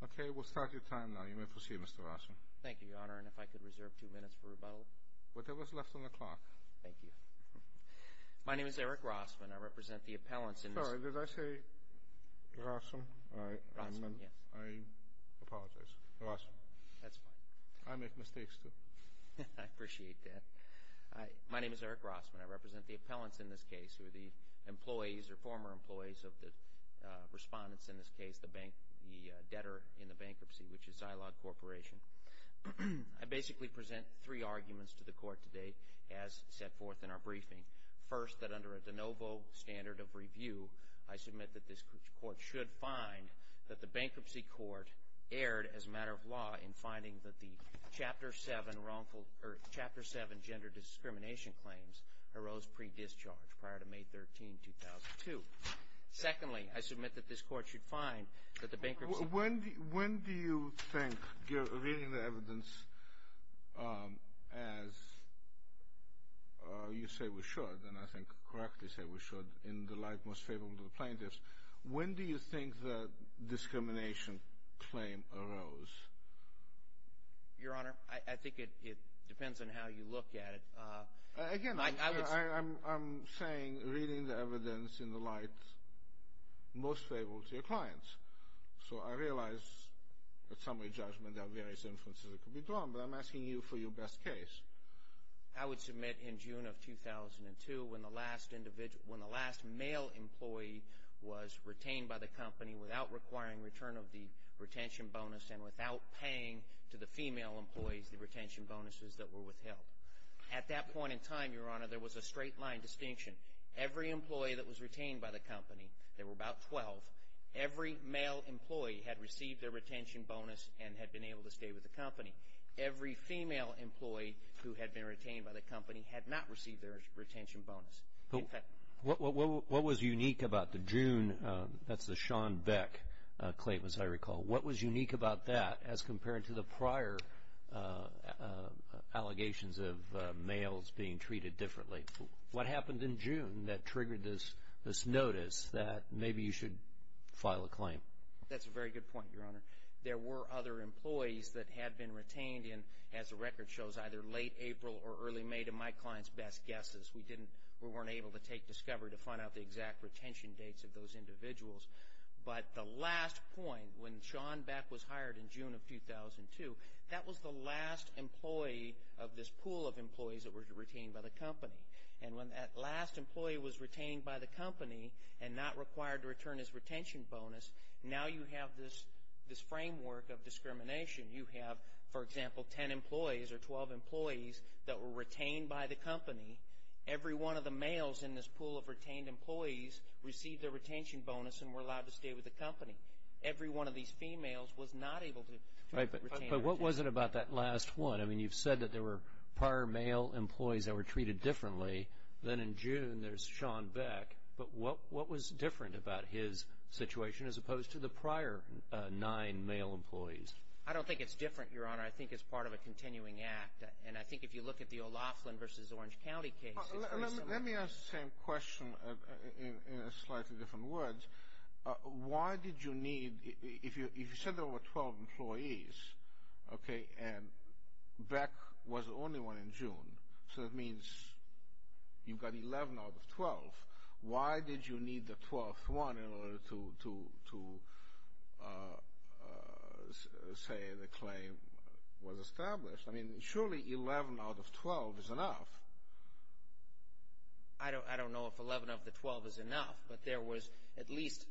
Okay, we'll start your time now. You may proceed, Mr. Rossman. Thank you, Your Honor, and if I could reserve two minutes for rebuttal. Whatever's left on the clock. Thank you. My name is Eric Rossman. I represent the appellants in this case. Sorry, did I say Rossman? Rossman, yes. I apologize. Rossman. That's fine. I make mistakes, too. I appreciate that. My name is Eric Rossman. I represent the appellants in this case, who are the employees or former employees of the respondents in this case, the debtor in the bankruptcy, which is Zilog Corporation. I basically present three arguments to the court today as set forth in our briefing. First, that under a de novo standard of review, I submit that this court should find that the bankruptcy court erred, as a matter of law, in finding that the Chapter 7 gender discrimination claims arose pre-discharge prior to May 13, 2002. Secondly, I submit that this court should find that the bankruptcy court— When do you think, reading the evidence as you say we should, and I think correctly say we should in the light most favorable to the plaintiffs, when do you think the discrimination claim arose? Your Honor, I think it depends on how you look at it. Again, I'm saying, reading the evidence in the light most favorable to your clients. So, I realize at summary judgment there are various inferences that could be drawn, but I'm asking you for your best case. I would submit in June of 2002, when the last male employee was retained by the company without requiring return of the retention bonus and without paying to the female employees the retention bonuses that were withheld. At that point in time, Your Honor, there was a straight line distinction. Every employee that was retained by the company, there were about 12, every male employee had received their retention bonus and had been able to stay with the company. Every female employee who had been retained by the company had not received their retention bonus. What was unique about the June—that's the Sean Beck claim, as I recall. What was unique about that as compared to the prior allegations of males being treated differently? What happened in June that triggered this notice that maybe you should file a claim? That's a very good point, Your Honor. There were other employees that had been retained in, as the record shows, either late April or early May to my client's best guesses. We weren't able to take discovery to find out the exact retention dates of those individuals. But the last point, when Sean Beck was hired in June of 2002, that was the last employee of this pool of employees that were retained by the company. And when that last employee was retained by the company and not required to return his retention bonus, now you have this framework of discrimination. You have, for example, 10 employees or 12 employees that were retained by the company. Every one of the males in this pool of retained employees received their retention bonus and were allowed to stay with the company. Every one of these females was not able to retain— But what was it about that last one? I mean, you've said that there were prior male employees that were treated differently. Then in June, there's Sean Beck. But what was different about his situation as opposed to the prior nine male employees? I don't think it's different, Your Honor. I think it's part of a continuing act. And I think if you look at the O'Loughlin v. Orange County case, it's pretty similar. Let me ask the same question in slightly different words. Why did you need—if you said there were 12 employees, okay, and Beck was the only one in June, so that means you've got 11 out of 12. Why did you need the 12th one in order to say the claim was established? I mean, surely 11 out of 12 is enough. I don't know if 11 of the 12 is enough, but there was at least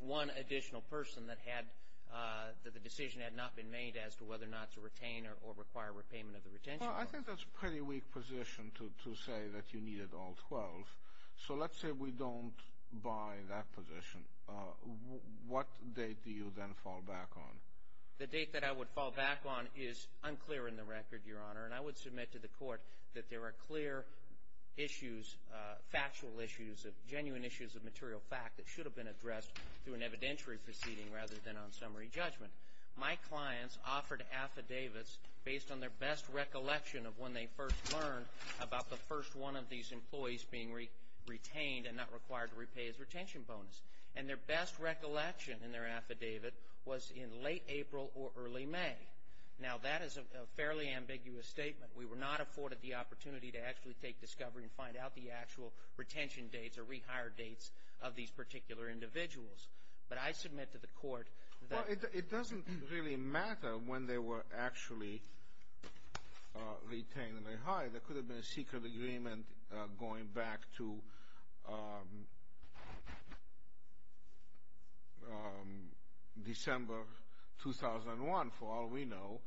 one additional person that the decision had not been made as to whether or not to retain or require repayment of the retention bonus. Well, I think that's a pretty weak position to say that you needed all 12. So let's say we don't buy that position. What date do you then fall back on? The date that I would fall back on is unclear in the record, Your Honor, and I would submit to the Court that there are clear issues, factual issues, genuine issues of material fact that should have been addressed through an evidentiary proceeding rather than on summary judgment. My clients offered affidavits based on their best recollection of when they first learned about the first one of these employees being retained and not required to repay his retention bonus. And their best recollection in their affidavit was in late April or early May. Now, that is a fairly ambiguous statement. We were not afforded the opportunity to actually take discovery and find out the actual retention dates or rehired dates of these particular individuals. But I submit to the Court that— Well, it doesn't really matter when they were actually retained and rehired. There could have been a secret agreement going back to December 2001. For all we know,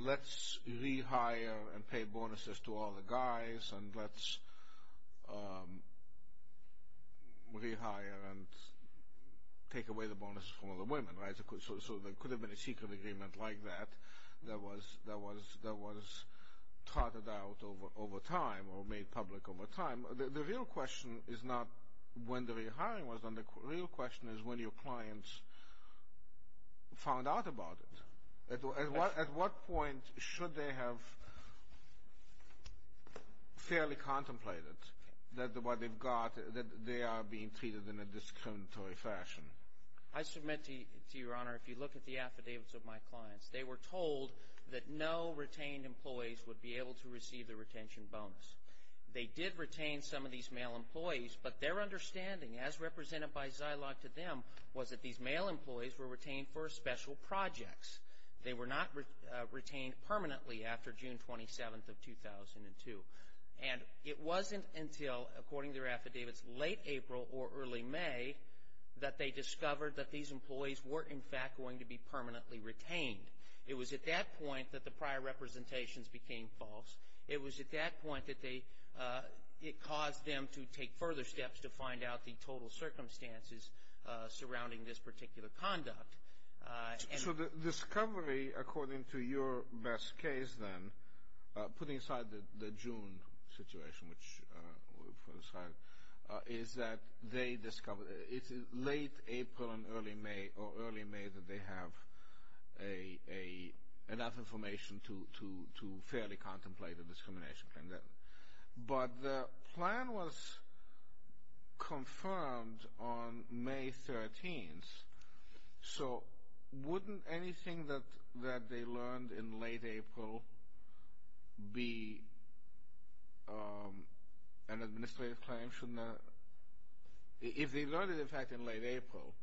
let's rehire and pay bonuses to all the guys and let's rehire and take away the bonuses from all the women, right? So there could have been a secret agreement like that that was trotted out over time or made public over time. The real question is not when the rehiring was done. The real question is when your clients found out about it. At what point should they have fairly contemplated that what they've got, that they are being treated in a discriminatory fashion? I submit to Your Honor, if you look at the affidavits of my clients, they were told that no retained employees would be able to receive the retention bonus. They did retain some of these male employees, but their understanding, as represented by Zilog to them, was that these male employees were retained for special projects. They were not retained permanently after June 27th of 2002. And it wasn't until, according to their affidavits, late April or early May, that they discovered that these employees were, in fact, going to be permanently retained. It was at that point that the prior representations became false. It was at that point that it caused them to take further steps to find out the total circumstances surrounding this particular conduct. So the discovery, according to your best case, then, putting aside the June situation, is that it's late April or early May that they have enough information to fairly contemplate a discrimination. But the plan was confirmed on May 13th. So wouldn't anything that they learned in late April be an administrative claim? If they learned it, in fact, in late April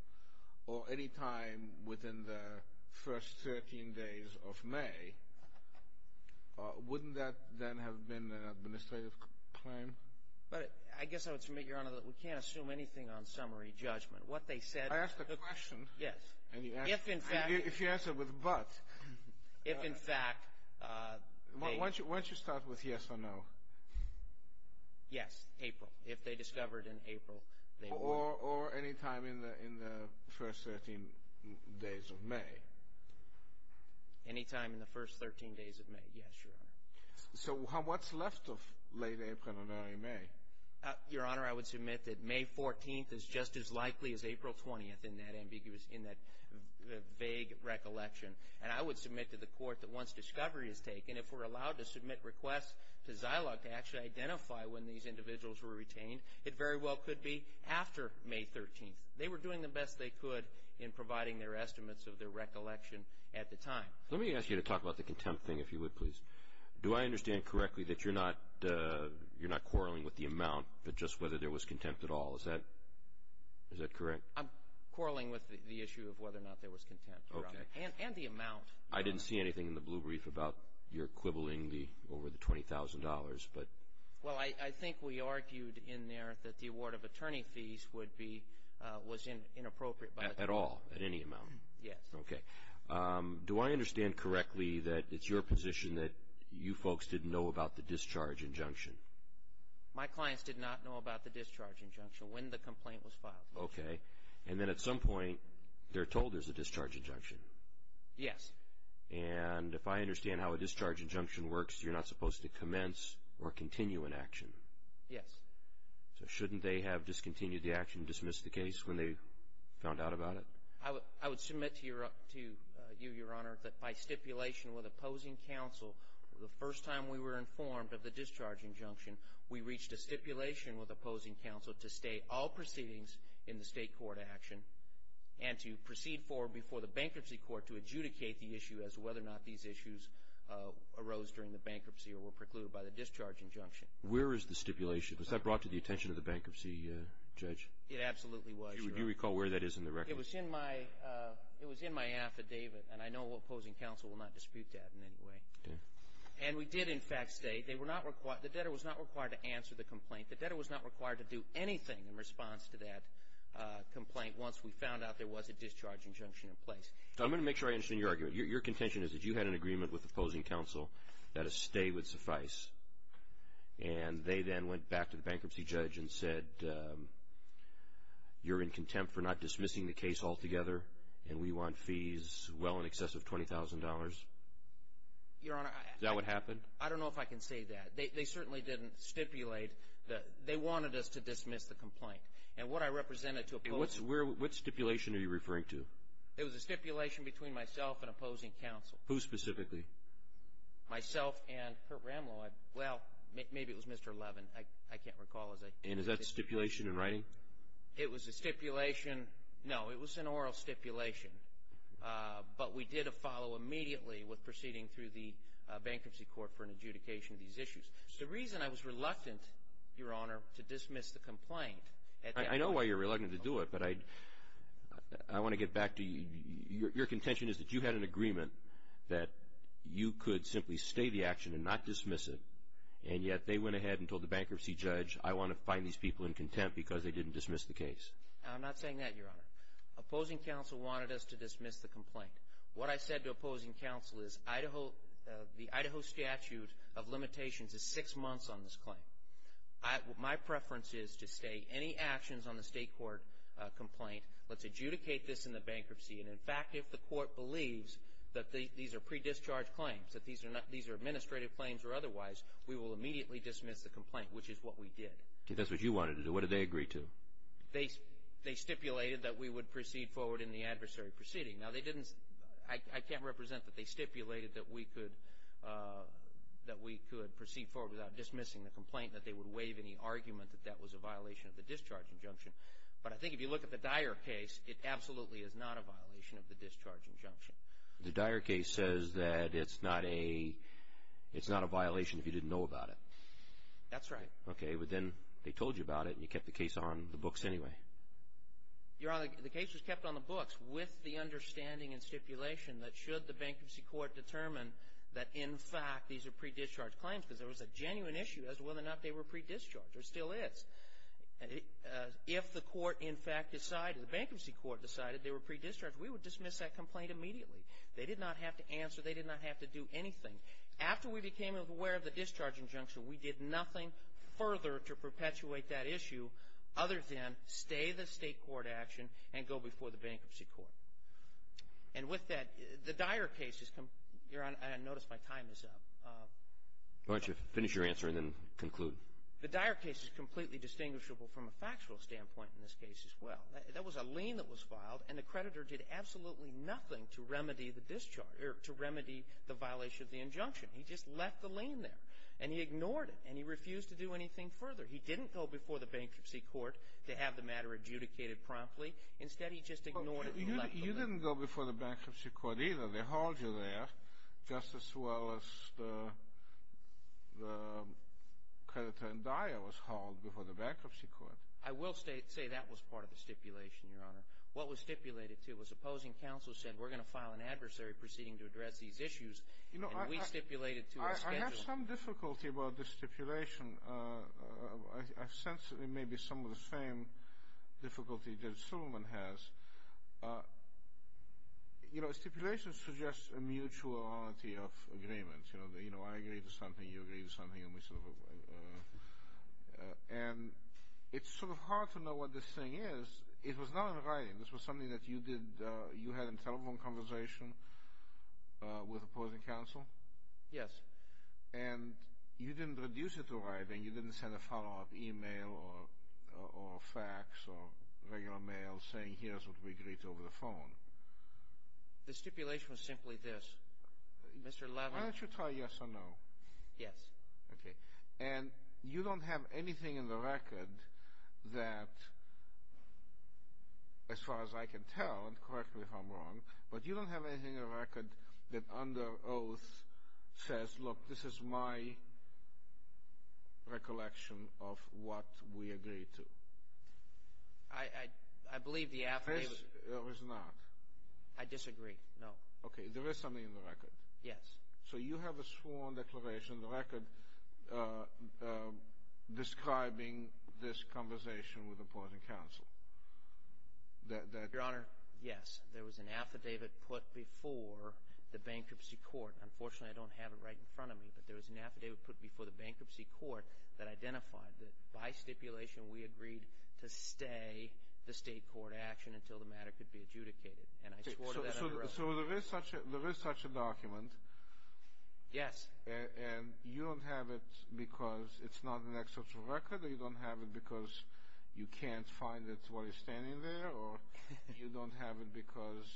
or any time within the first 13 days of May, wouldn't that then have been an administrative claim? I guess I would submit, Your Honor, that we can't assume anything on summary judgment. I asked a question. Yes. If you answer with but. If, in fact. Why don't you start with yes or no? Yes, April. If they discovered in April, they would. Or any time in the first 13 days of May. Any time in the first 13 days of May, yes, Your Honor. So what's left of late April and early May? Your Honor, I would submit that May 14th is just as likely as April 20th in that vague recollection. And I would submit to the Court that once discovery is taken, if we're allowed to submit requests to Zilog to actually identify when these individuals were retained, it very well could be after May 13th. They were doing the best they could in providing their estimates of their recollection at the time. Let me ask you to talk about the contempt thing, if you would, please. Do I understand correctly that you're not quarreling with the amount, but just whether there was contempt at all? Is that correct? I'm quarreling with the issue of whether or not there was contempt, Your Honor. Okay. And the amount. I didn't see anything in the blue brief about your quibbling over the $20,000, but. Well, I think we argued in there that the award of attorney fees would be, was inappropriate. At all? At any amount? Yes. Okay. Do I understand correctly that it's your position that you folks didn't know about the discharge injunction? My clients did not know about the discharge injunction when the complaint was filed. Okay. And then at some point they're told there's a discharge injunction? Yes. And if I understand how a discharge injunction works, you're not supposed to commence or continue an action? Yes. So shouldn't they have discontinued the action, dismissed the case when they found out about it? I would submit to you, Your Honor, that by stipulation with opposing counsel, the first time we were informed of the discharge injunction, we reached a stipulation with opposing counsel to stay all proceedings in the state court action and to proceed forward before the bankruptcy court to adjudicate the issue as to whether or not these issues arose during the bankruptcy or were precluded by the discharge injunction. Where is the stipulation? Was that brought to the attention of the bankruptcy judge? It absolutely was, Your Honor. Do you recall where that is in the record? It was in my affidavit, and I know opposing counsel will not dispute that in any way. Okay. And we did, in fact, stay. The debtor was not required to answer the complaint. The debtor was not required to do anything in response to that complaint once we found out there was a discharge injunction in place. I'm going to make sure I understand your argument. Your contention is that you had an agreement with opposing counsel that a stay would suffice, and they then went back to the bankruptcy judge and said, you're in contempt for not dismissing the case altogether, and we want fees well in excess of $20,000? Your Honor, I don't know if I can say that. They certainly didn't stipulate. They wanted us to dismiss the complaint. And what I represented to opposing counsel. What stipulation are you referring to? It was a stipulation between myself and opposing counsel. Who specifically? Myself and Kurt Ramlow. Well, maybe it was Mr. Levin. I can't recall. And is that stipulation in writing? It was a stipulation. No, it was an oral stipulation. But we did follow immediately with proceeding through the bankruptcy court for an adjudication of these issues. The reason I was reluctant, Your Honor, to dismiss the complaint. I know why you're reluctant to do it, but I want to get back to you. Your contention is that you had an agreement that you could simply stay the action and not dismiss it, and yet they went ahead and told the bankruptcy judge, I want to find these people in contempt because they didn't dismiss the case. I'm not saying that, Your Honor. Opposing counsel wanted us to dismiss the complaint. What I said to opposing counsel is the Idaho statute of limitations is six months on this claim. My preference is to stay. Any actions on the state court complaint, let's adjudicate this in the bankruptcy. And, in fact, if the court believes that these are pre-discharge claims, that these are administrative claims or otherwise, we will immediately dismiss the complaint, which is what we did. That's what you wanted to do. What did they agree to? They stipulated that we would proceed forward in the adversary proceeding. Now, I can't represent that they stipulated that we could proceed forward without dismissing the complaint, that they would waive any argument that that was a violation of the discharge injunction. But I think if you look at the Dyer case, it absolutely is not a violation of the discharge injunction. The Dyer case says that it's not a violation if you didn't know about it. That's right. Okay, but then they told you about it and you kept the case on the books anyway. Your Honor, the case was kept on the books with the understanding and stipulation that should the bankruptcy court determine that, in fact, these are pre-discharge claims because there was a genuine issue as to whether or not they were pre-discharge. There still is. If the court, in fact, decided, the bankruptcy court decided they were pre-discharge, we would dismiss that complaint immediately. They did not have to answer. They did not have to do anything. After we became aware of the discharge injunction, we did nothing further to perpetuate that issue other than stay the state court action and go before the bankruptcy court. And with that, the Dyer case is – Your Honor, I notice my time is up. Why don't you finish your answer and then conclude. The Dyer case is completely distinguishable from a factual standpoint in this case as well. That was a lien that was filed and the creditor did absolutely nothing to remedy the discharge – or to remedy the violation of the injunction. He just left the lien there and he ignored it and he refused to do anything further. He didn't go before the bankruptcy court to have the matter adjudicated promptly. Instead, he just ignored it and left the lien. You didn't go before the bankruptcy court either. They hauled you there just as well as the creditor in Dyer was hauled before the bankruptcy court. I will say that was part of the stipulation, Your Honor. What was stipulated, too, was opposing counsel said, we're going to file an adversary proceeding to address these issues, and we stipulated to a scheduled – I have some difficulty about the stipulation. I sense that it may be some of the same difficulty that Suleiman has. You know, stipulation suggests a mutuality of agreements. You know, I agree to something, you agree to something, and we sort of – and it's sort of hard to know what this thing is. It was not in writing. This was something that you did – you had a telephone conversation with opposing counsel? Yes. And you didn't reduce it to writing. You didn't send a follow-up email or fax or regular mail saying, here's what we agreed to over the phone? The stipulation was simply this. Mr. Levin – Why don't you try yes or no? Yes. Okay. And you don't have anything in the record that, as far as I can tell, and correct me if I'm wrong, but you don't have anything in the record that under oath says, look, this is my recollection of what we agreed to? I believe the affidavit – Or is it not? I disagree, no. Okay. There is something in the record? Yes. So you have a sworn declaration in the record describing this conversation with opposing counsel? Your Honor, yes. There was an affidavit put before the bankruptcy court. Unfortunately, I don't have it right in front of me, but there was an affidavit put before the bankruptcy court that identified that by stipulation we agreed to stay the state court action until the matter could be adjudicated. And I swore to that under oath. So there is such a document? Yes. And you don't have it because it's not an excerpt from record, or you don't have it because you can't find it while you're standing there, or you don't have it because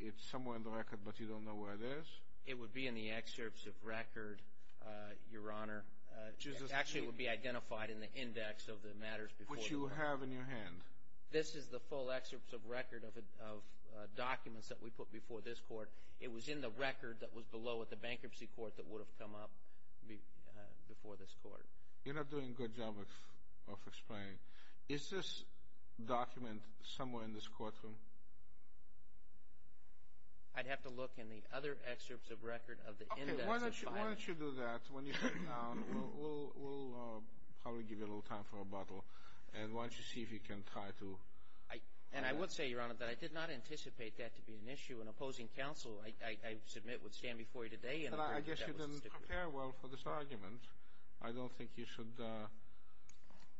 it's somewhere in the record but you don't know where it is? It would be in the excerpts of record, Your Honor. Actually, it would be identified in the index of the matters before the court. Which you have in your hand? This is the full excerpts of record of documents that we put before this court. It was in the record that was below at the bankruptcy court that would have come up before this court. You're not doing a good job of explaining. Is this document somewhere in this courtroom? I'd have to look in the other excerpts of record of the index of findings. Okay. Why don't you do that when you sit down? We'll probably give you a little time for rebuttal. And why don't you see if you can try to? And I would say, Your Honor, that I did not anticipate that to be an issue. An opposing counsel, I submit, would stand before you today and agree that that was a stipulation. I guess you didn't prepare well for this argument. I don't think you should.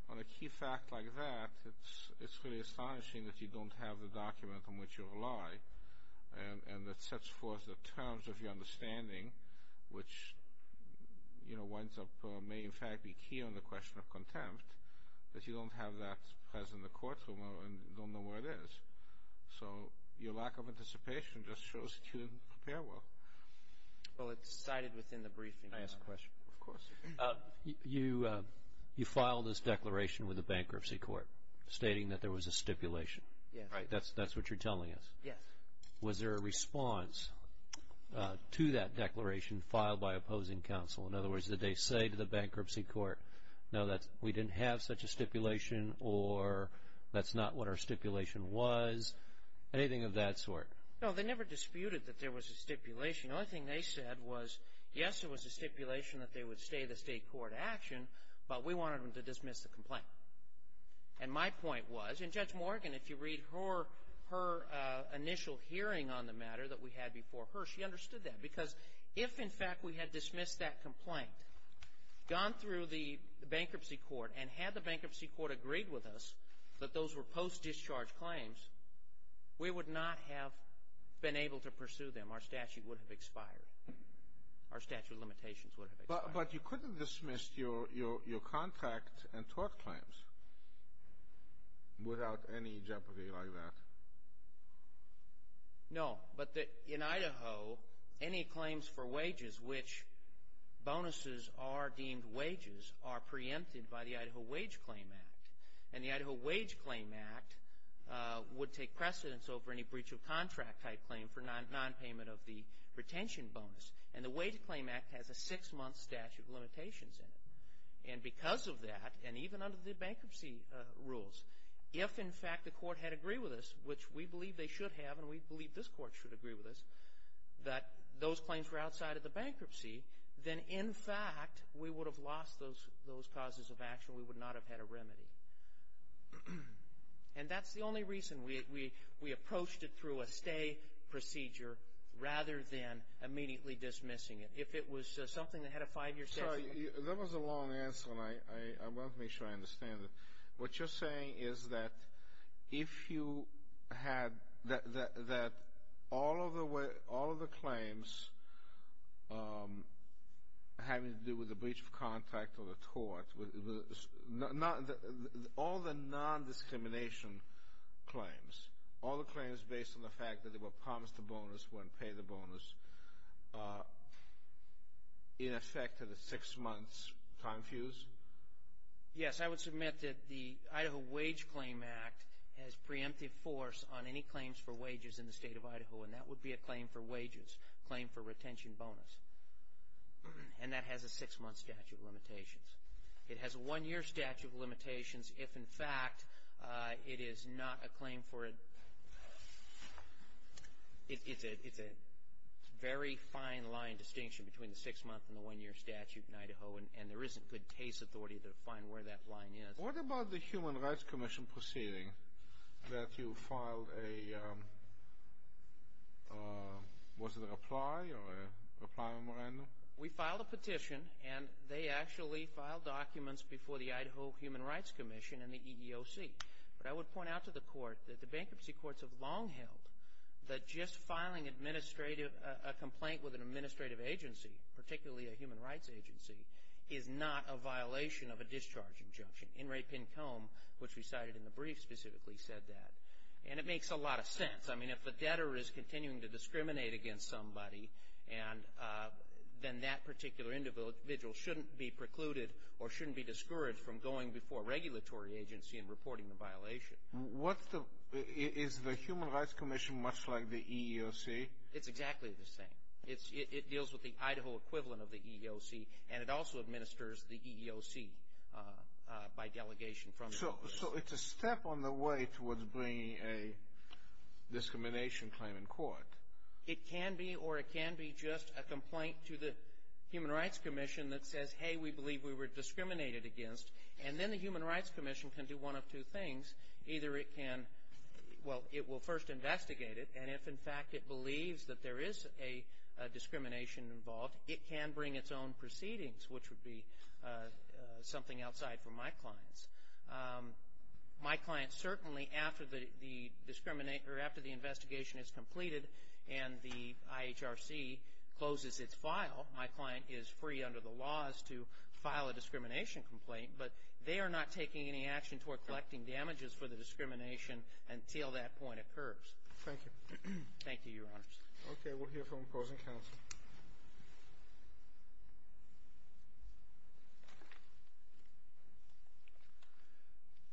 On a key fact like that, it's really astonishing that you don't have the document on which you rely and that sets forth the terms of your understanding, which, you know, winds up, may in fact be key on the question of contempt, that you don't have that present in the courtroom and don't know where it is. So your lack of anticipation just shows that you didn't prepare well. Well, it's cited within the briefing. Can I ask a question? Of course. You filed this declaration with the bankruptcy court stating that there was a stipulation. Yes. Right. That's what you're telling us. Yes. Was there a response to that declaration filed by opposing counsel? In other words, did they say to the bankruptcy court, no, we didn't have such a stipulation or that's not what our stipulation was, anything of that sort? No, they never disputed that there was a stipulation. The only thing they said was, yes, there was a stipulation that they would stay the state court action, but we wanted them to dismiss the complaint. And my point was, and Judge Morgan, if you read her initial hearing on the matter that we had before her, she understood that. Because if, in fact, we had dismissed that complaint, gone through the bankruptcy court and had the bankruptcy court agreed with us that those were post-discharge claims, we would not have been able to pursue them. Our statute would have expired. Our statute of limitations would have expired. But you couldn't dismiss your contract and tort claims without any jeopardy like that. No. But in Idaho, any claims for wages which bonuses are deemed wages are preempted by the Idaho Wage Claim Act. And the Idaho Wage Claim Act would take precedence over any breach of contract type claim for nonpayment of the retention bonus. And the Wage Claim Act has a six-month statute of limitations in it. And because of that, and even under the bankruptcy rules, if, in fact, the court had agreed with us, which we believe they should have and we believe this court should agree with us, that those claims were outside of the bankruptcy, then, in fact, we would have lost those causes of action. We would not have had a remedy. And that's the only reason we approached it through a stay procedure rather than immediately dismissing it. If it was something that had a five-year statute. That was a long answer, and I want to make sure I understand it. What you're saying is that if you had that all of the claims having to do with a breach of contract or a tort, all the non-discrimination claims, all the claims based on the fact that they were promised a bonus when paid the bonus in effect at a six-month time fuse? Yes. I would submit that the Idaho Wage Claim Act has preemptive force on any claims for wages in the State of Idaho, and that would be a claim for wages, a claim for retention bonus. And that has a six-month statute of limitations. It has a one-year statute of limitations if, in fact, it is not a claim for a – it's a very fine-lined distinction between the six-month and the one-year statute in Idaho, and there isn't good case authority to find where that line is. What about the Human Rights Commission proceeding that you filed a – was it a reply or a reply memorandum? We filed a petition, and they actually filed documents before the Idaho Human Rights Commission and the EEOC. But I would point out to the Court that the bankruptcy courts have long held that just filing administrative – is not a violation of a discharge injunction. In re pin com, which we cited in the brief, specifically said that. And it makes a lot of sense. I mean, if the debtor is continuing to discriminate against somebody, then that particular individual shouldn't be precluded or shouldn't be discouraged from going before a regulatory agency and reporting the violation. What's the – is the Human Rights Commission much like the EEOC? It's exactly the same. It deals with the Idaho equivalent of the EEOC, and it also administers the EEOC by delegation from the – So it's a step on the way towards bringing a discrimination claim in court. It can be, or it can be just a complaint to the Human Rights Commission that says, hey, we believe we were discriminated against. And then the Human Rights Commission can do one of two things. Either it can – well, it will first investigate it, and if, in fact, it believes that there is a discrimination involved, it can bring its own proceedings, which would be something outside for my clients. My client certainly, after the investigation is completed and the IHRC closes its file, my client is free under the laws to file a discrimination complaint, but they are not taking any action toward collecting damages for the discrimination until that point occurs. Thank you. Thank you, Your Honors. Okay, we'll hear from opposing counsel.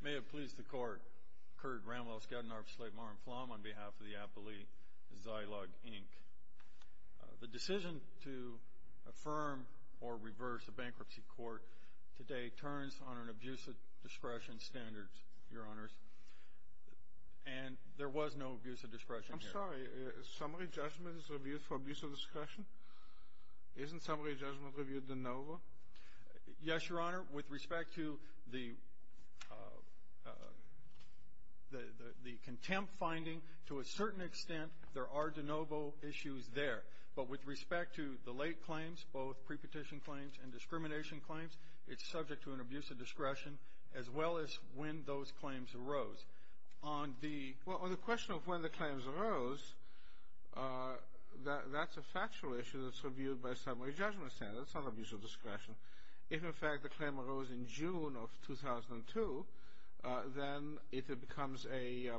May it please the Court, Kurt Ramwell, Skadden, Arps, Slate, Mar and Flom on behalf of the appellee, Zylug, Inc. The decision to affirm or reverse a bankruptcy court today turns on an abusive discretion standard, Your Honors, and there was no abusive discretion here. I'm sorry. Summary judgment is reviewed for abusive discretion? Isn't summary judgment reviewed de novo? Yes, Your Honor. With respect to the contempt finding, to a certain extent, there are de novo issues there. But with respect to the late claims, both pre-petition claims and discrimination claims, it's subject to an abusive discretion as well as when those claims arose. On the question of when the claims arose, that's a factual issue that's reviewed by a summary judgment standard. It's not abusive discretion. If, in fact, the claim arose in June of 2002, then it becomes a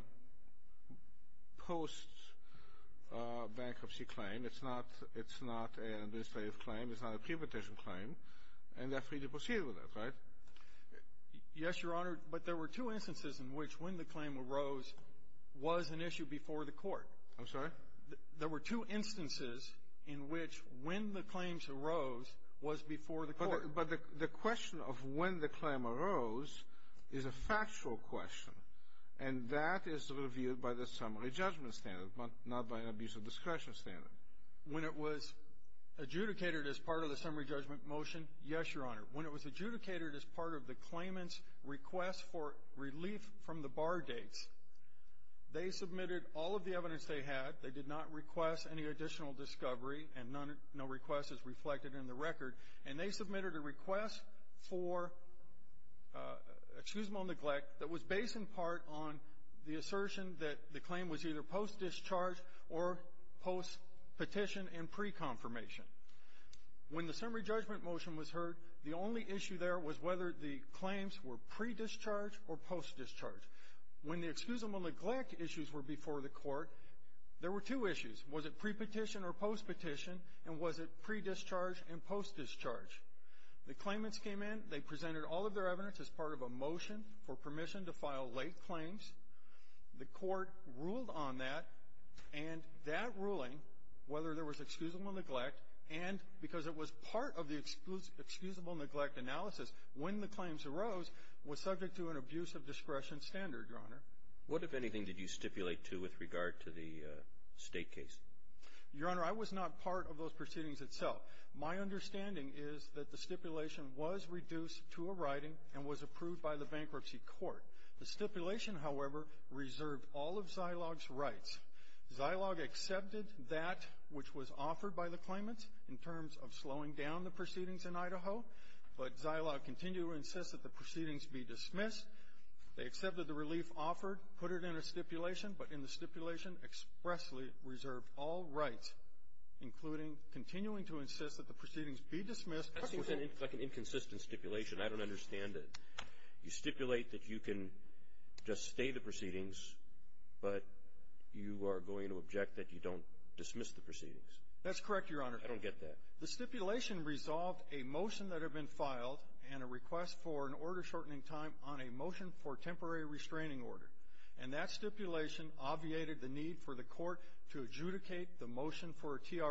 post-bankruptcy claim. It's not an administrative claim. It's not a pre-petition claim. And they're free to proceed with it, right? Yes, Your Honor, but there were two instances in which when the claim arose was an issue before the court. I'm sorry? There were two instances in which when the claims arose was before the court. But the question of when the claim arose is a factual question, and that is reviewed by the summary judgment standard, not by an abusive discretion standard. When it was adjudicated as part of the summary judgment motion, yes, Your Honor. When it was adjudicated as part of the claimant's request for relief from the bar dates, they submitted all of the evidence they had. They did not request any additional discovery, and no request is reflected in the record. And they submitted a request for excusable neglect that was based in part on the assertion that the claim was either post-discharge or post-petition and pre-confirmation. When the summary judgment motion was heard, the only issue there was whether the claims were pre-discharge or post-discharge. When the excusable neglect issues were before the court, there were two issues. Was it pre-petition or post-petition, and was it pre-discharge and post-discharge? The claimants came in. They presented all of their evidence as part of a motion for permission to file late claims. The court ruled on that, and that ruling, whether there was excusable neglect and because it was part of the excusable neglect analysis when the claims arose, was subject to an abuse of discretion standard, Your Honor. What, if anything, did you stipulate to with regard to the State case? Your Honor, I was not part of those proceedings itself. My understanding is that the stipulation was reduced to a writing and was approved by the bankruptcy court. The stipulation, however, reserved all of Zilog's rights. Zilog accepted that which was offered by the claimants in terms of slowing down the proceedings in Idaho, but Zilog continued to insist that the proceedings be dismissed. They accepted the relief offered, put it in a stipulation, but in the stipulation expressly reserved all rights, including continuing to insist that the proceedings be dismissed. That seems like an inconsistent stipulation. I don't understand it. You stipulate that you can just stay the proceedings, but you are going to object that you don't dismiss the proceedings. That's correct, Your Honor. I don't get that. The stipulation resolved a motion that had been filed and a request for an order shortening time on a motion for temporary restraining order. And that stipulation obviated the need for the court to adjudicate the motion for adversary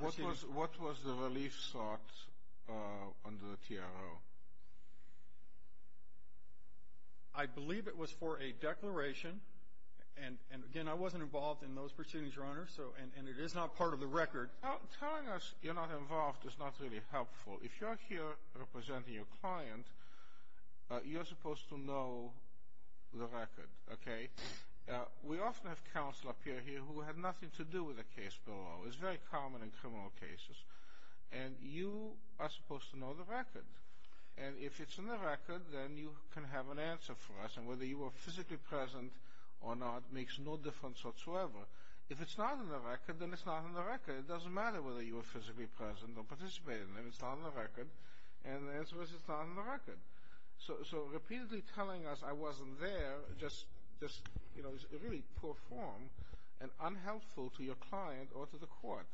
proceedings. What was the relief sought under the TRO? I believe it was for a declaration. And, again, I wasn't involved in those proceedings, Your Honor, and it is not part of the record. Telling us you're not involved is not really helpful. If you're here representing your client, you're supposed to know the record, okay? We often have counsel up here who have nothing to do with a case below. It's very common in criminal cases. And you are supposed to know the record. And if it's in the record, then you can have an answer for us. And whether you were physically present or not makes no difference whatsoever. If it's not in the record, then it's not in the record. It doesn't matter whether you were physically present or participated in it. It's not in the record. And the answer is it's not in the record. So, repeatedly telling us I wasn't there just, you know, is really poor form and unhelpful to your client or to the court.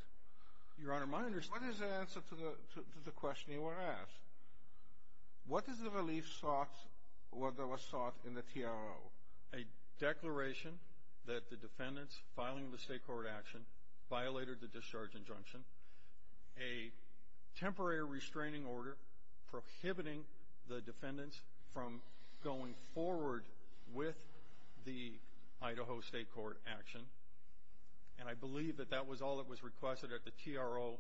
Your Honor, my understanding of the question is, what is the answer to the question you were asked? What is the relief sought or that was sought in the TRO? A declaration that the defendants filing the state court action violated the discharge injunction. A temporary restraining order prohibiting the defendants from going forward with the Idaho state court action. And I believe that that was all that was requested at the TRO.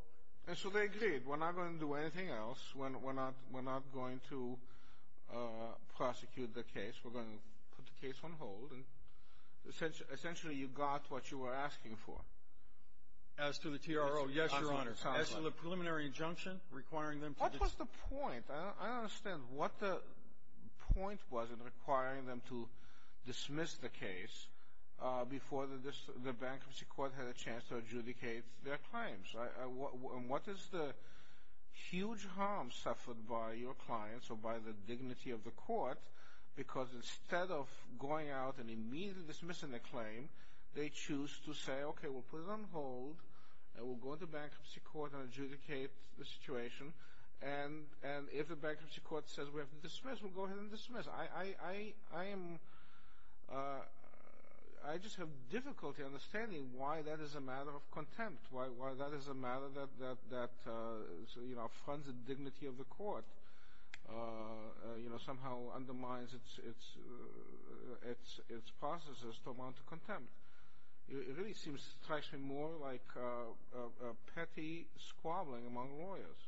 And so they agreed, we're not going to do anything else. We're not going to prosecute the case. We're going to put the case on hold. And essentially you got what you were asking for. As to the TRO, yes, Your Honor, as to the preliminary injunction requiring them to What was the point? I don't understand what the point was in requiring them to dismiss the case before the bankruptcy court had a chance to adjudicate their claims. And what is the huge harm suffered by your clients or by the dignity of the court? Because instead of going out and immediately dismissing the claim, they choose to say, okay, we'll put it on hold. And we'll go to the bankruptcy court and adjudicate the situation. And if the bankruptcy court says we have to dismiss, we'll go ahead and dismiss. I just have difficulty understanding why that is a matter of contempt, why that is a matter that, you know, affronts the dignity of the court, you know, somehow undermines its processes to amount to contempt. It really seems to me more like petty squabbling among lawyers.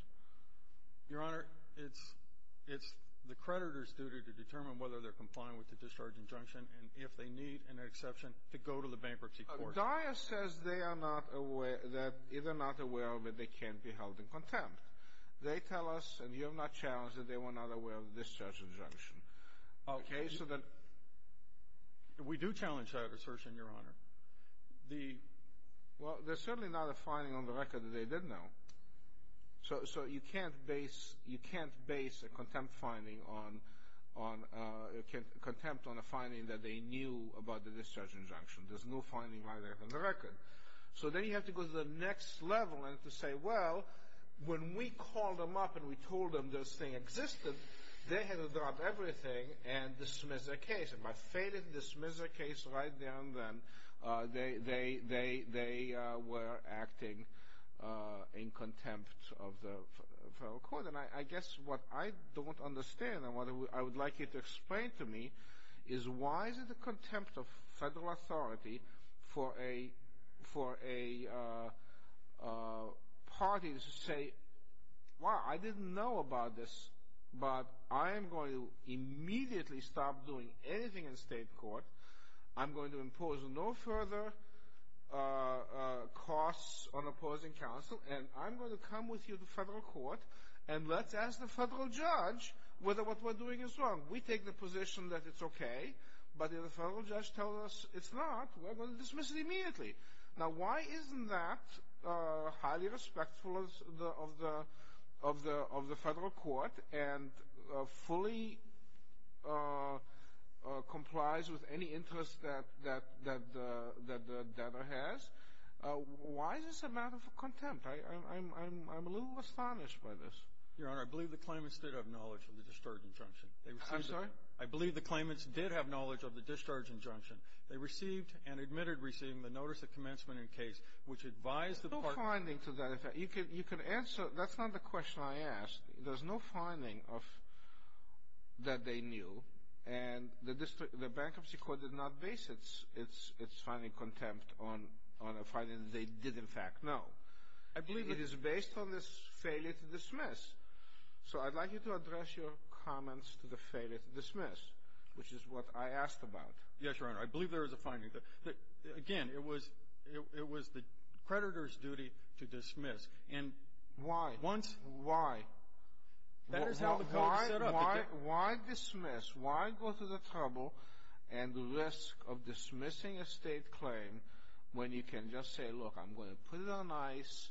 Your Honor, it's the creditor's duty to determine whether they're complying with the discharge injunction and if they need an exception to go to the bankruptcy court. DIA says they are not aware, that if they're not aware of it, they can't be held in contempt. They tell us, and you have not challenged, that they were not aware of the discharge injunction. Okay. We do challenge that assertion, Your Honor. Well, there's certainly not a finding on the record that they didn't know. So you can't base a contempt finding on a finding that they knew about the discharge injunction. There's no finding like that on the record. So then you have to go to the next level and to say, well, when we called them up and we told them this thing existed, they had to drop everything and dismiss their case. And by failing to dismiss their case right then and then, they were acting in contempt of the federal court. And I guess what I don't understand and what I would like you to explain to me is why is it a contempt of federal authority for a party to say, well, I didn't know about this, but I am going to immediately stop doing anything in state court. I'm going to impose no further costs on opposing counsel, and I'm going to come with you to federal court, and let's ask the federal judge whether what we're doing is wrong. We take the position that it's okay, but if the federal judge tells us it's not, we're going to dismiss it immediately. Now, why isn't that highly respectful of the federal court and fully complies with any interest that the debtor has? Why is this a matter of contempt? I'm a little astonished by this. Your Honor, I believe the claimants did have knowledge of the discharge injunction. I'm sorry? I believe the claimants did have knowledge of the discharge injunction. They received and admitted receiving the notice of commencement in case, which advised the parties to do so. There's no finding to that. You can answer. That's not the question I asked. There's no finding that they knew. And the bankruptcy court did not base its finding contempt on a finding they did, in fact, know. I believe it is based on this failure to dismiss. So I'd like you to address your comments to the failure to dismiss, which is what I asked about. Yes, Your Honor. I believe there is a finding. Again, it was the creditor's duty to dismiss. Why? Once. Why? That is how the code is set up. Why dismiss? Why go to the trouble and risk of dismissing a state claim when you can just say, look, I'm going to put it on ice,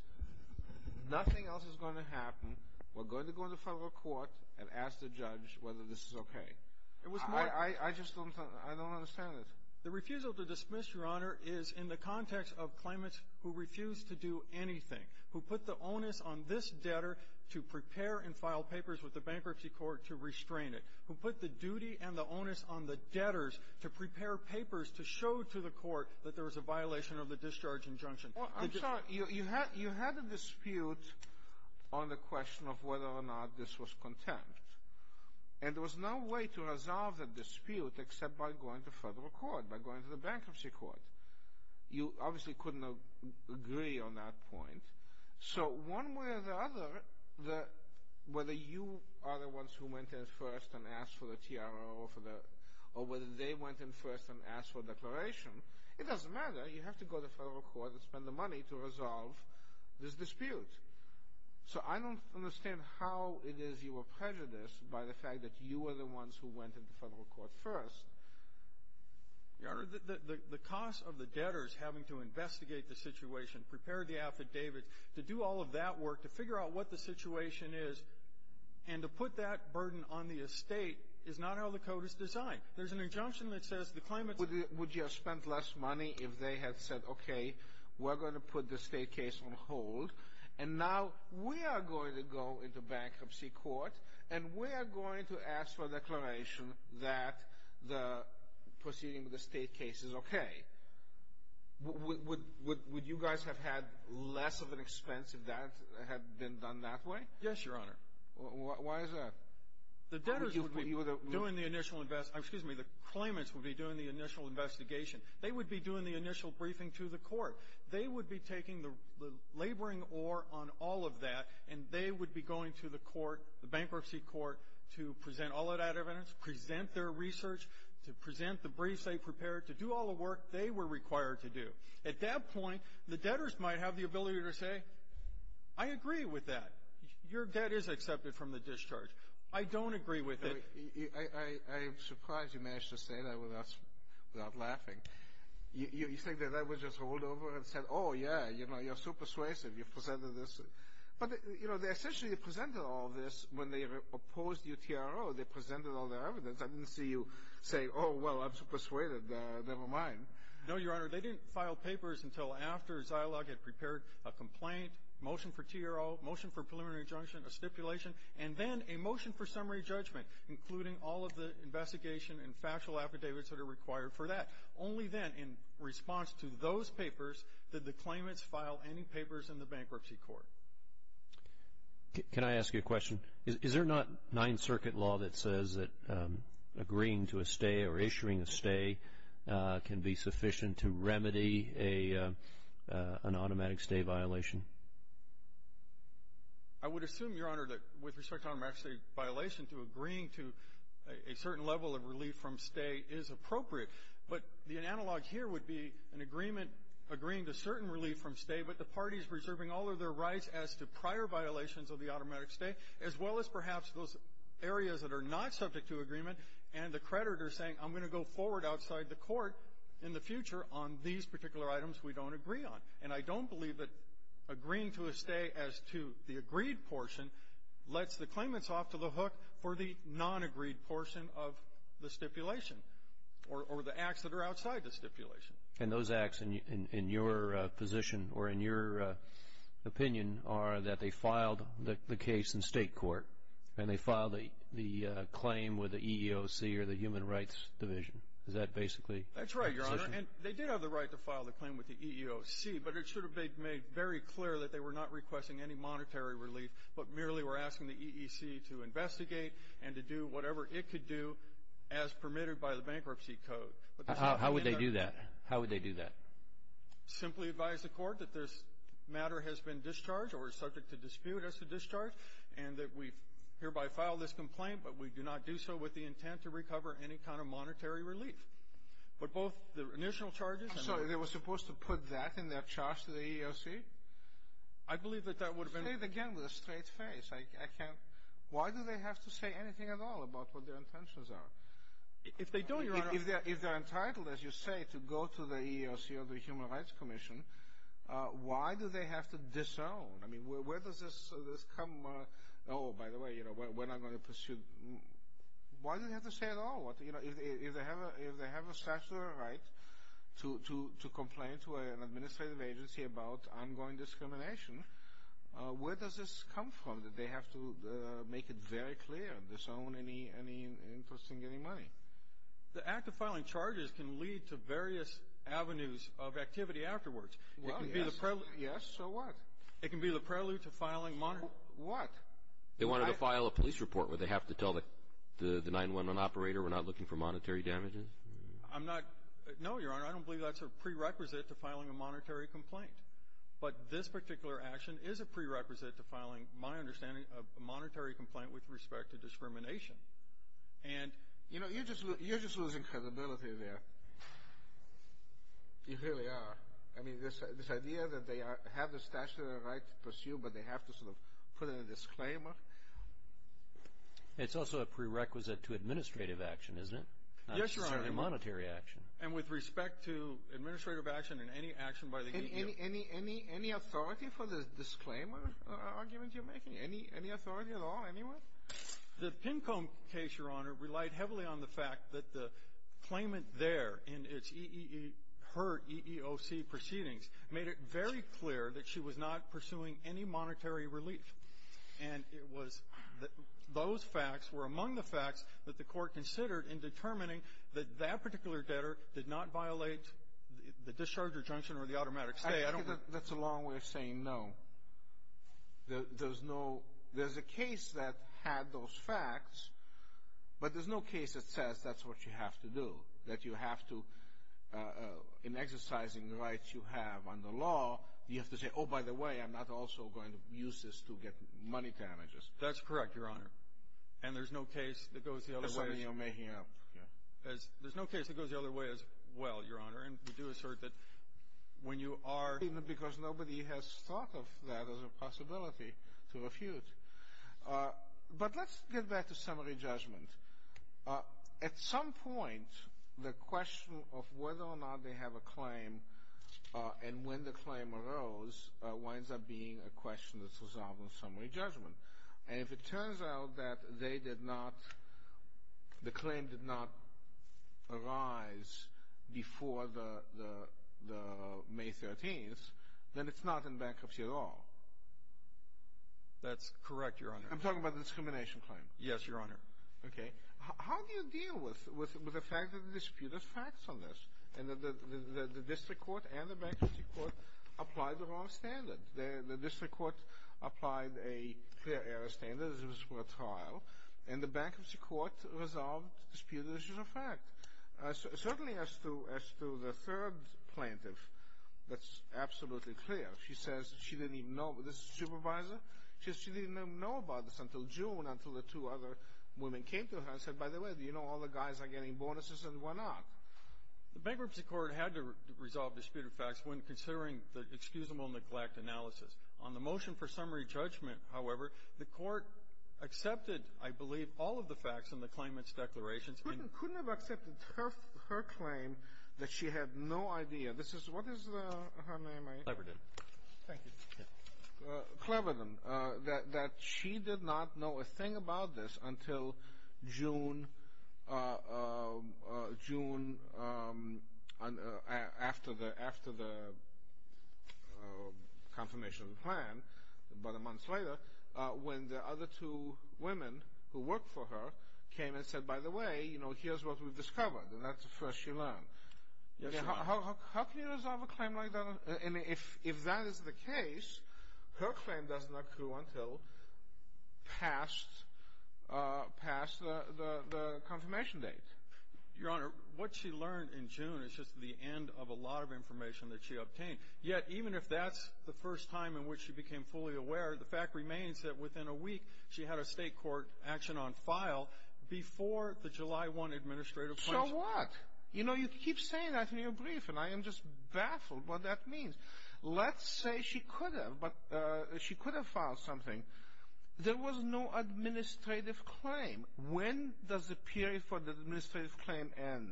nothing else is going to happen, we're going to go to the federal court and ask the judge whether this is okay. I just don't understand it. The refusal to dismiss, Your Honor, is in the context of claimants who refuse to do anything, who put the onus on this debtor to prepare and file papers with the bankruptcy court to restrain it, who put the duty and the onus on the debtors to prepare papers to show to the court that there was a violation of the discharge injunction. I'm sorry. You had a dispute on the question of whether or not this was content, and there was no way to resolve the dispute except by going to federal court, by going to the bankruptcy court. You obviously couldn't agree on that point. So one way or the other, whether you are the ones who went in first and asked for the TRO or whether they went in first and asked for a declaration, it doesn't matter. You have to go to federal court and spend the money to resolve this dispute. So I don't understand how it is you were prejudiced by the fact that you were the ones who went into federal court first. Your Honor, the cost of the debtors having to investigate the situation, prepare the affidavits, to do all of that work, to figure out what the situation is, and to put that burden on the estate is not how the code is designed. There's an injunction that says the claimant's… Would you have spent less money if they had said, okay, we're going to put the estate case on hold, and now we are going to go into bankruptcy court, and we are going to ask for a declaration that the proceeding with the estate case is okay. Would you guys have had less of an expense if that had been done that way? Yes, Your Honor. Why is that? The debtors would be doing the initial investigation. Excuse me. The claimants would be doing the initial investigation. They would be doing the initial briefing to the court. They would be taking the laboring ore on all of that, and they would be going to the court, the bankruptcy court, to present all of that evidence, present their research, to present the briefs they prepared, to do all the work they were required to do. At that point, the debtors might have the ability to say, I agree with that. Your debt is accepted from the discharge. I don't agree with it. I'm surprised you managed to say that without laughing. You think that I would just hold over and say, oh, yeah, you know, you're so persuasive. You've presented this. But, you know, they essentially presented all of this when they opposed your TRO. They presented all their evidence. I didn't see you say, oh, well, I'm so persuaded. Never mind. No, Your Honor. They didn't file papers until after Zilog had prepared a complaint, motion for TRO, motion for preliminary injunction, a stipulation, and then a motion for summary judgment, including all of the investigation and factual affidavits that are required for that. Only then, in response to those papers, did the claimants file any papers in the bankruptcy court. Can I ask you a question? Is there not Ninth Circuit law that says that agreeing to a stay or issuing a stay can be sufficient to remedy an automatic stay violation? I would assume, Your Honor, that with respect to automatic stay violation, to agreeing to a certain level of relief from stay is appropriate. But the analog here would be an agreement agreeing to certain relief from stay, but the parties reserving all of their rights as to prior violations of the automatic stay, as well as perhaps those areas that are not subject to agreement and the creditor saying I'm going to go forward outside the court in the future on these particular items we don't agree on. And I don't believe that agreeing to a stay as to the agreed portion lets the claimants off to the hook for the non-agreed portion of the stipulation or the acts that are outside the stipulation. And those acts, in your position or in your opinion, are that they filed the case in state court and they filed the claim with the EEOC or the Human Rights Division. Is that basically the position? That's right, Your Honor. And they did have the right to file the claim with the EEOC, but it should have been made very clear that they were not requesting any monetary relief but merely were asking the EEOC to investigate and to do whatever it could do as permitted by the bankruptcy code. How would they do that? How would they do that? Simply advise the court that this matter has been discharged or is subject to dispute as to discharge and that we hereby file this complaint, but we do not do so with the intent to recover any kind of monetary relief. But both the initial charges and the ---- I'm sorry. They were supposed to put that in their charge to the EEOC? I believe that that would have been ---- Say it again with a straight face. I can't. Why do they have to say anything at all about what their intentions are? If they don't, Your Honor ---- If they're entitled, as you say, to go to the EEOC or the Human Rights Commission, why do they have to disown? I mean, where does this come ---- Oh, by the way, we're not going to pursue ---- Why do they have to say at all? If they have a statutory right to complain to an administrative agency about ongoing discrimination, where does this come from that they have to make it very clear, disown any interest in getting money? The act of filing charges can lead to various avenues of activity afterwards. Well, yes. Yes, so what? It can be the prelude to filing monetary ---- What? They wanted to file a police report. Would they have to tell the 911 operator we're not looking for monetary damages? I'm not ---- No, Your Honor, I don't believe that's a prerequisite to filing a monetary complaint. But this particular action is a prerequisite to filing, my understanding, a monetary complaint with respect to discrimination. And, you know, you're just losing credibility there. You really are. I mean, this idea that they have the statutory right to pursue, but they have to sort of put in a disclaimer. It's also a prerequisite to administrative action, isn't it? Yes, Your Honor. Not necessarily monetary action. And with respect to administrative action and any action by the EEOC. Any authority for the disclaimer arguments you're making? Any authority at all anywhere? The Pincomb case, Your Honor, relied heavily on the fact that the claimant there in its EEOC proceedings made it very clear that she was not pursuing any monetary relief. And it was that those facts were among the facts that the Court considered in determining that that particular debtor did not violate the discharger junction or the automatic stay. I think that's a long way of saying no. There's a case that had those facts, but there's no case that says that's what you have to do. That you have to, in exercising the rights you have under law, you have to say, oh, by the way, I'm not also going to use this to get money damages. That's correct, Your Honor. And there's no case that goes the other way as well, Your Honor. Because nobody has thought of that as a possibility to refute. But let's get back to summary judgment. At some point, the question of whether or not they have a claim and when the claim arose winds up being a question that's resolved in summary judgment. And if it turns out that they did not, the claim did not arise before the May 13th, then it's not in bankruptcy at all. That's correct, Your Honor. I'm talking about the discrimination claim. Yes, Your Honor. Okay. How do you deal with the fact that the dispute has facts on this and that the district court and the bankruptcy court applied the wrong standard? The district court applied a clear error standard as it was for a trial. And the bankruptcy court resolved dispute issues of fact. Certainly, as to the third plaintiff, that's absolutely clear. She says she didn't even know. This is the supervisor. She says she didn't even know about this until June, until the two other women came to her and said, by the way, do you know all the guys are getting bonuses and why not? The bankruptcy court had to resolve dispute of facts when considering the excusable neglect analysis. On the motion for summary judgment, however, the court accepted, I believe, all of the facts in the claimant's declarations. Couldn't have accepted her claim that she had no idea. This is what is her name? Cleverdon. Thank you. Cleverdon, that she did not know a thing about this until June after the confirmation of the plan, about a month later, when the other two women who worked for her came and said, by the way, you know, here's what we've discovered, and that's the first she learned. Yes, Your Honor. How can you resolve a claim like that? And if that is the case, her claim does not accrue until past the confirmation date. Your Honor, what she learned in June is just the end of a lot of information that she obtained. Yet, even if that's the first time in which she became fully aware, the fact remains that within a week, she had a state court action on file before the July 1 administrative claims. So what? You know, you keep saying that in your brief, and I am just baffled what that means. Let's say she could have, but she could have filed something. There was no administrative claim. When does the period for the administrative claim end?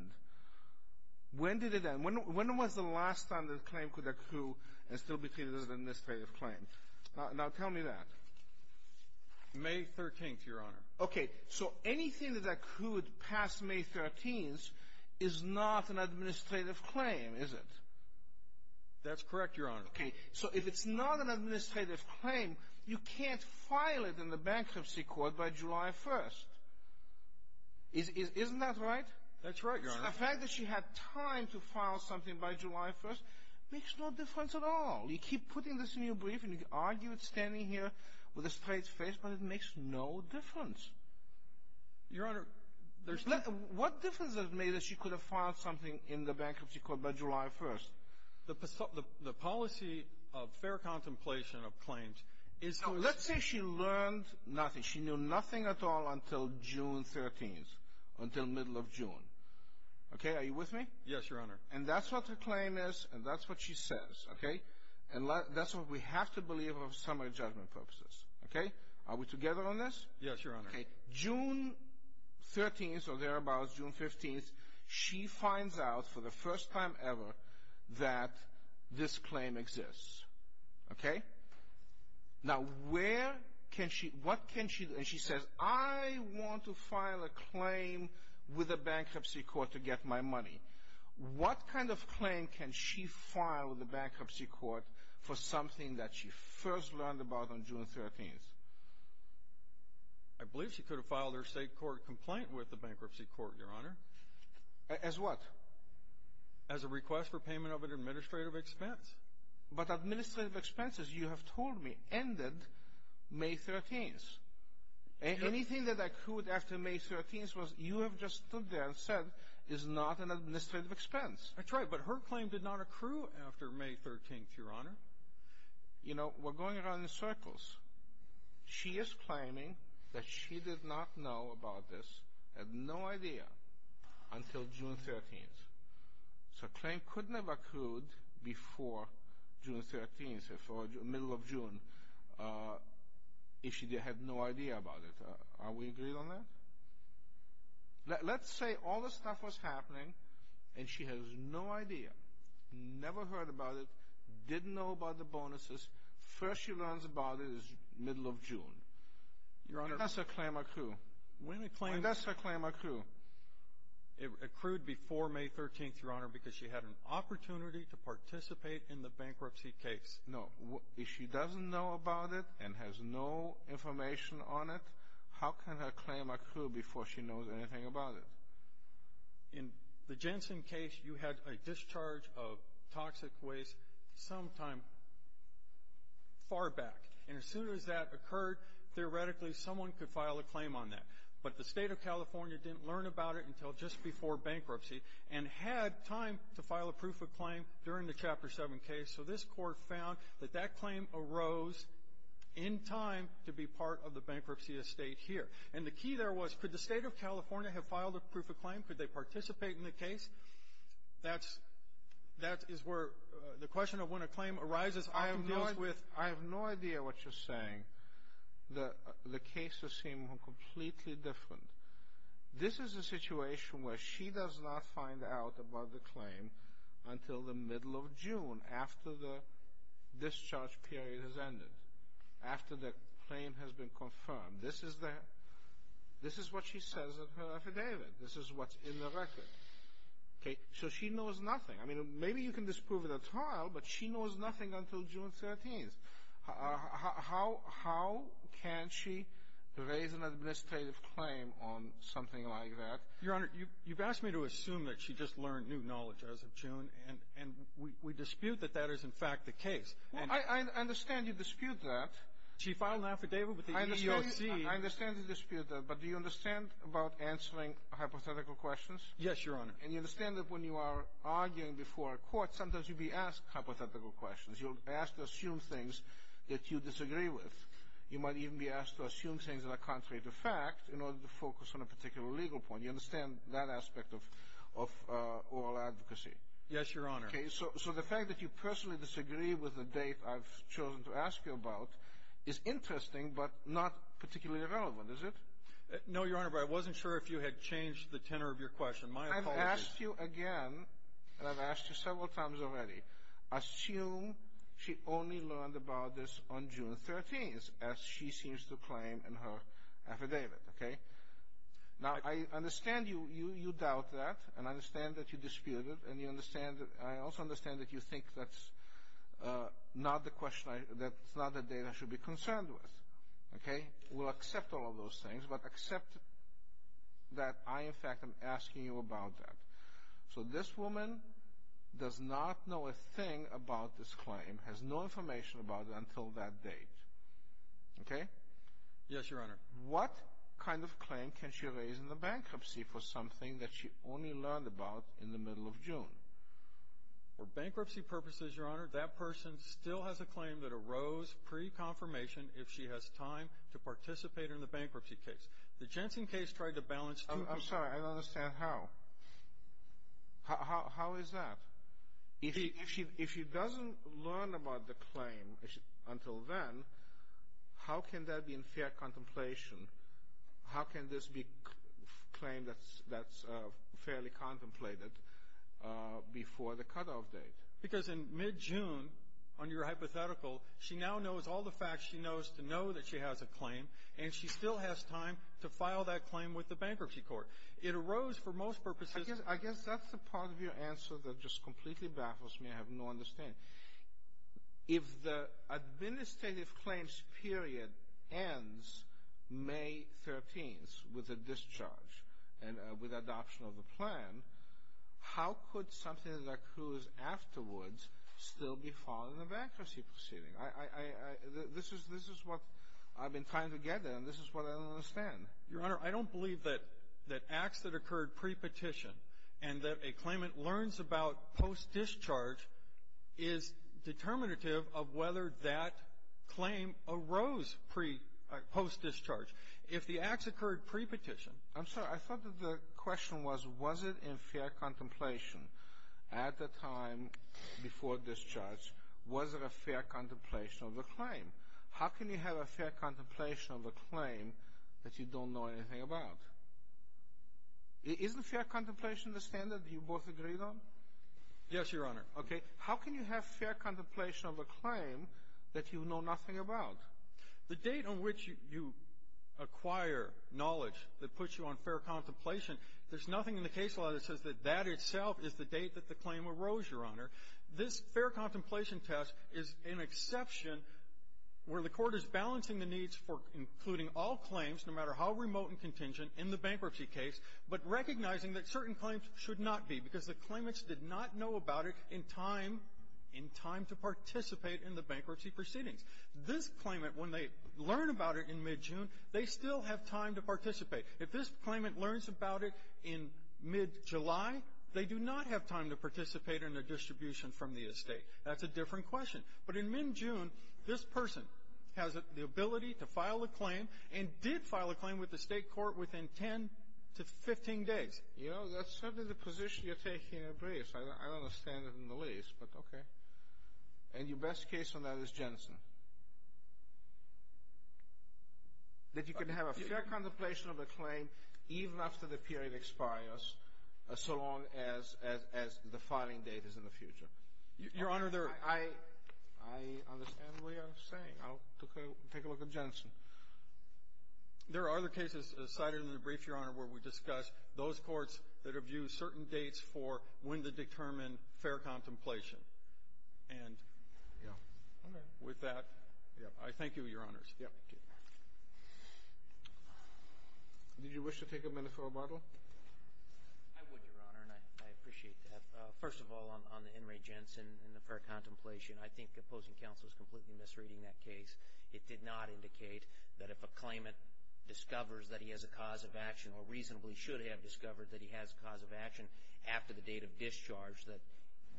When did it end? When was the last time the claim could accrue and still be treated as an administrative claim? Now tell me that. May 13th, Your Honor. Okay, so anything that accrued past May 13th is not an administrative claim, is it? That's correct, Your Honor. Okay, so if it's not an administrative claim, you can't file it in the bankruptcy court by July 1st. Isn't that right? That's right, Your Honor. The fact that she had time to file something by July 1st makes no difference at all. You keep putting this in your brief, and you argue it standing here with a straight face, but it makes no difference. Your Honor, there's no — What difference does it make that she could have filed something in the bankruptcy court by July 1st? The policy of fair contemplation of claims is for — Now, let's say she learned nothing. She knew nothing at all until June 13th, until middle of June. Okay, are you with me? Yes, Your Honor. And that's what her claim is, and that's what she says, okay? And that's what we have to believe of summary judgment purposes, okay? Are we together on this? Yes, Your Honor. Okay, June 13th or thereabouts, June 15th, she finds out for the first time ever that this claim exists, okay? Now, where can she — what can she do? And she says, I want to file a claim with the bankruptcy court to get my money. What kind of claim can she file with the bankruptcy court for something that she first learned about on June 13th? I believe she could have filed her state court complaint with the bankruptcy court, Your Honor. As what? As a request for payment of an administrative expense. But administrative expenses, you have told me, ended May 13th. Anything that accrued after May 13th, you have just stood there and said, is not an administrative expense. That's right, but her claim did not accrue after May 13th, Your Honor. You know, we're going around in circles. She is claiming that she did not know about this, had no idea, until June 13th. So a claim couldn't have accrued before June 13th, the middle of June, if she had no idea about it. Are we agreed on that? Let's say all this stuff was happening and she has no idea, never heard about it, didn't know about the bonuses. First she learns about it is the middle of June. When does a claim accrue? When does a claim accrue? It accrued before May 13th, Your Honor, because she had an opportunity to participate in the bankruptcy case. No. If she doesn't know about it and has no information on it, how can her claim accrue before she knows anything about it? In the Jensen case, you had a discharge of toxic waste sometime far back. And as soon as that occurred, theoretically, someone could file a claim on that. But the State of California didn't learn about it until just before bankruptcy and had time to file a proof of claim during the Chapter 7 case. So this Court found that that claim arose in time to be part of the bankruptcy estate here. And the key there was, could the State of California have filed a proof of claim? Could they participate in the case? That's where the question of when a claim arises often deals with — This is a situation where she does not find out about the claim until the middle of June, after the discharge period has ended, after the claim has been confirmed. This is what she says in her affidavit. This is what's in the record. So she knows nothing. Maybe you can disprove it at trial, but she knows nothing until June 13th. How can she raise an administrative claim on something like that? Your Honor, you've asked me to assume that she just learned new knowledge as of June, and we dispute that that is, in fact, the case. I understand you dispute that. She filed an affidavit with the EEOC. I understand you dispute that, but do you understand about answering hypothetical questions? Yes, Your Honor. And you understand that when you are arguing before a court, sometimes you'll be asked hypothetical questions. You'll be asked to assume things that you disagree with. You might even be asked to assume things that are contrary to fact in order to focus on a particular legal point. You understand that aspect of oral advocacy? Yes, Your Honor. So the fact that you personally disagree with the date I've chosen to ask you about is interesting, but not particularly relevant, is it? No, Your Honor, but I wasn't sure if you had changed the tenor of your question. My apologies. I've asked you again, and I've asked you several times already. Assume she only learned about this on June 13th, as she seems to claim in her affidavit. Now, I understand you doubt that, and I understand that you dispute it, and I also understand that you think that's not the date I should be concerned with. We'll accept all of those things, but accept that I, in fact, am asking you about that. So this woman does not know a thing about this claim, has no information about it until that date. Okay? Yes, Your Honor. What kind of claim can she raise in the bankruptcy for something that she only learned about in the middle of June? For bankruptcy purposes, Your Honor, that person still has a claim that arose pre-confirmation if she has time to participate in the bankruptcy case. I'm sorry. I don't understand how. How is that? If she doesn't learn about the claim until then, how can that be in fair contemplation? How can this be a claim that's fairly contemplated before the cutoff date? Because in mid-June, on your hypothetical, she now knows all the facts she knows to know that she has a claim, and she still has time to file that claim with the bankruptcy court. It arose for most purposes. I guess that's the part of your answer that just completely baffles me. I have no understanding. If the administrative claims period ends May 13th with a discharge and with adoption of the plan, how could something that accrues afterwards still be filed in a bankruptcy proceeding? This is what I've been trying to get at, and this is what I don't understand. Your Honor, I don't believe that acts that occurred pre-petition and that a claimant learns about post-discharge is determinative of whether that claim arose post-discharge. If the acts occurred pre-petition — I'm sorry. I thought that the question was, was it in fair contemplation at the time before discharge? Was it a fair contemplation of the claim? How can you have a fair contemplation of a claim that you don't know anything about? Isn't fair contemplation the standard that you both agreed on? Yes, Your Honor. Okay. How can you have fair contemplation of a claim that you know nothing about? The date on which you acquire knowledge that puts you on fair contemplation, there's nothing in the case law that says that that itself is the date that the claim arose, Your Honor. This fair contemplation test is an exception where the Court is balancing the needs for including all claims, no matter how remote and contingent, in the bankruptcy case, but recognizing that certain claims should not be because the claimants did not know about it in time to participate in the bankruptcy proceedings. This claimant, when they learn about it in mid-June, they still have time to participate. If this claimant learns about it in mid-July, they do not have time to participate in the distribution from the estate. That's a different question. But in mid-June, this person has the ability to file a claim and did file a claim with the State court within 10 to 15 days. You know, that's certainly the position you're taking in a brief. I don't understand it in the least, but okay. And your best case on that is Jensen. That you can have a fair contemplation of a claim even after the period expires, so long as the filing date is in the future. Your Honor, I understand what you're saying. I'll take a look at Jensen. There are other cases cited in the brief, Your Honor, where we discuss those courts that have used certain dates for when to determine fair contemplation. And with that, I thank you, Your Honors. Thank you. Did you wish to take a minute for a bottle? I would, Your Honor, and I appreciate that. First of all, on the In re Jensen and the fair contemplation, I think opposing counsel is completely misreading that case. It did not indicate that if a claimant discovers that he has a cause of action or reasonably should have discovered that he has a cause of action after the date of discharge, that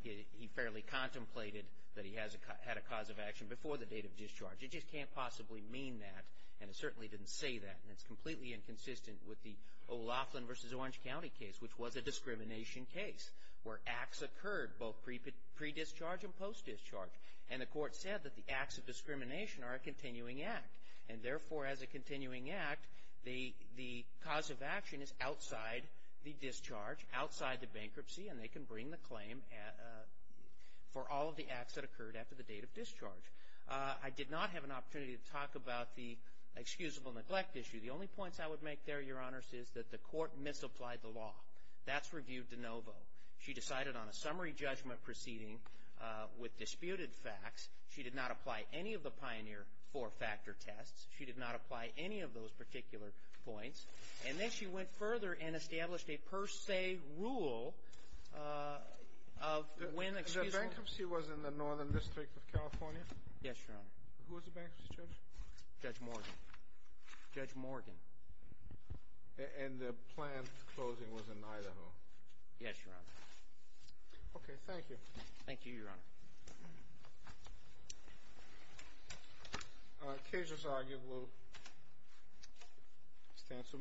he fairly contemplated that he had a cause of action before the date of discharge. It just can't possibly mean that, and it certainly didn't say that. And it's completely inconsistent with the O'Loughlin v. Orange County case, which was a discrimination case where acts occurred both pre-discharge and post-discharge. And the court said that the acts of discrimination are a continuing act. And therefore, as a continuing act, the cause of action is outside the discharge, outside the bankruptcy, and they can bring the claim for all of the acts that occurred after the date of discharge. I did not have an opportunity to talk about the excusable neglect issue. The only points I would make there, Your Honors, is that the court misapplied the law. That's reviewed de novo. She decided on a summary judgment proceeding with disputed facts. She did not apply any of the pioneer four-factor tests. She did not apply any of those particular points. And then she went further and established a per se rule of when excusable ñ The bankruptcy was in the Northern District of California? Yes, Your Honor. Who was the bankruptcy judge? Judge Morgan. Judge Morgan. And the planned closing was in Niagara? No. Yes, Your Honor. Okay. Thank you. Thank you, Your Honor. The case is argued. We'll stand some minutes.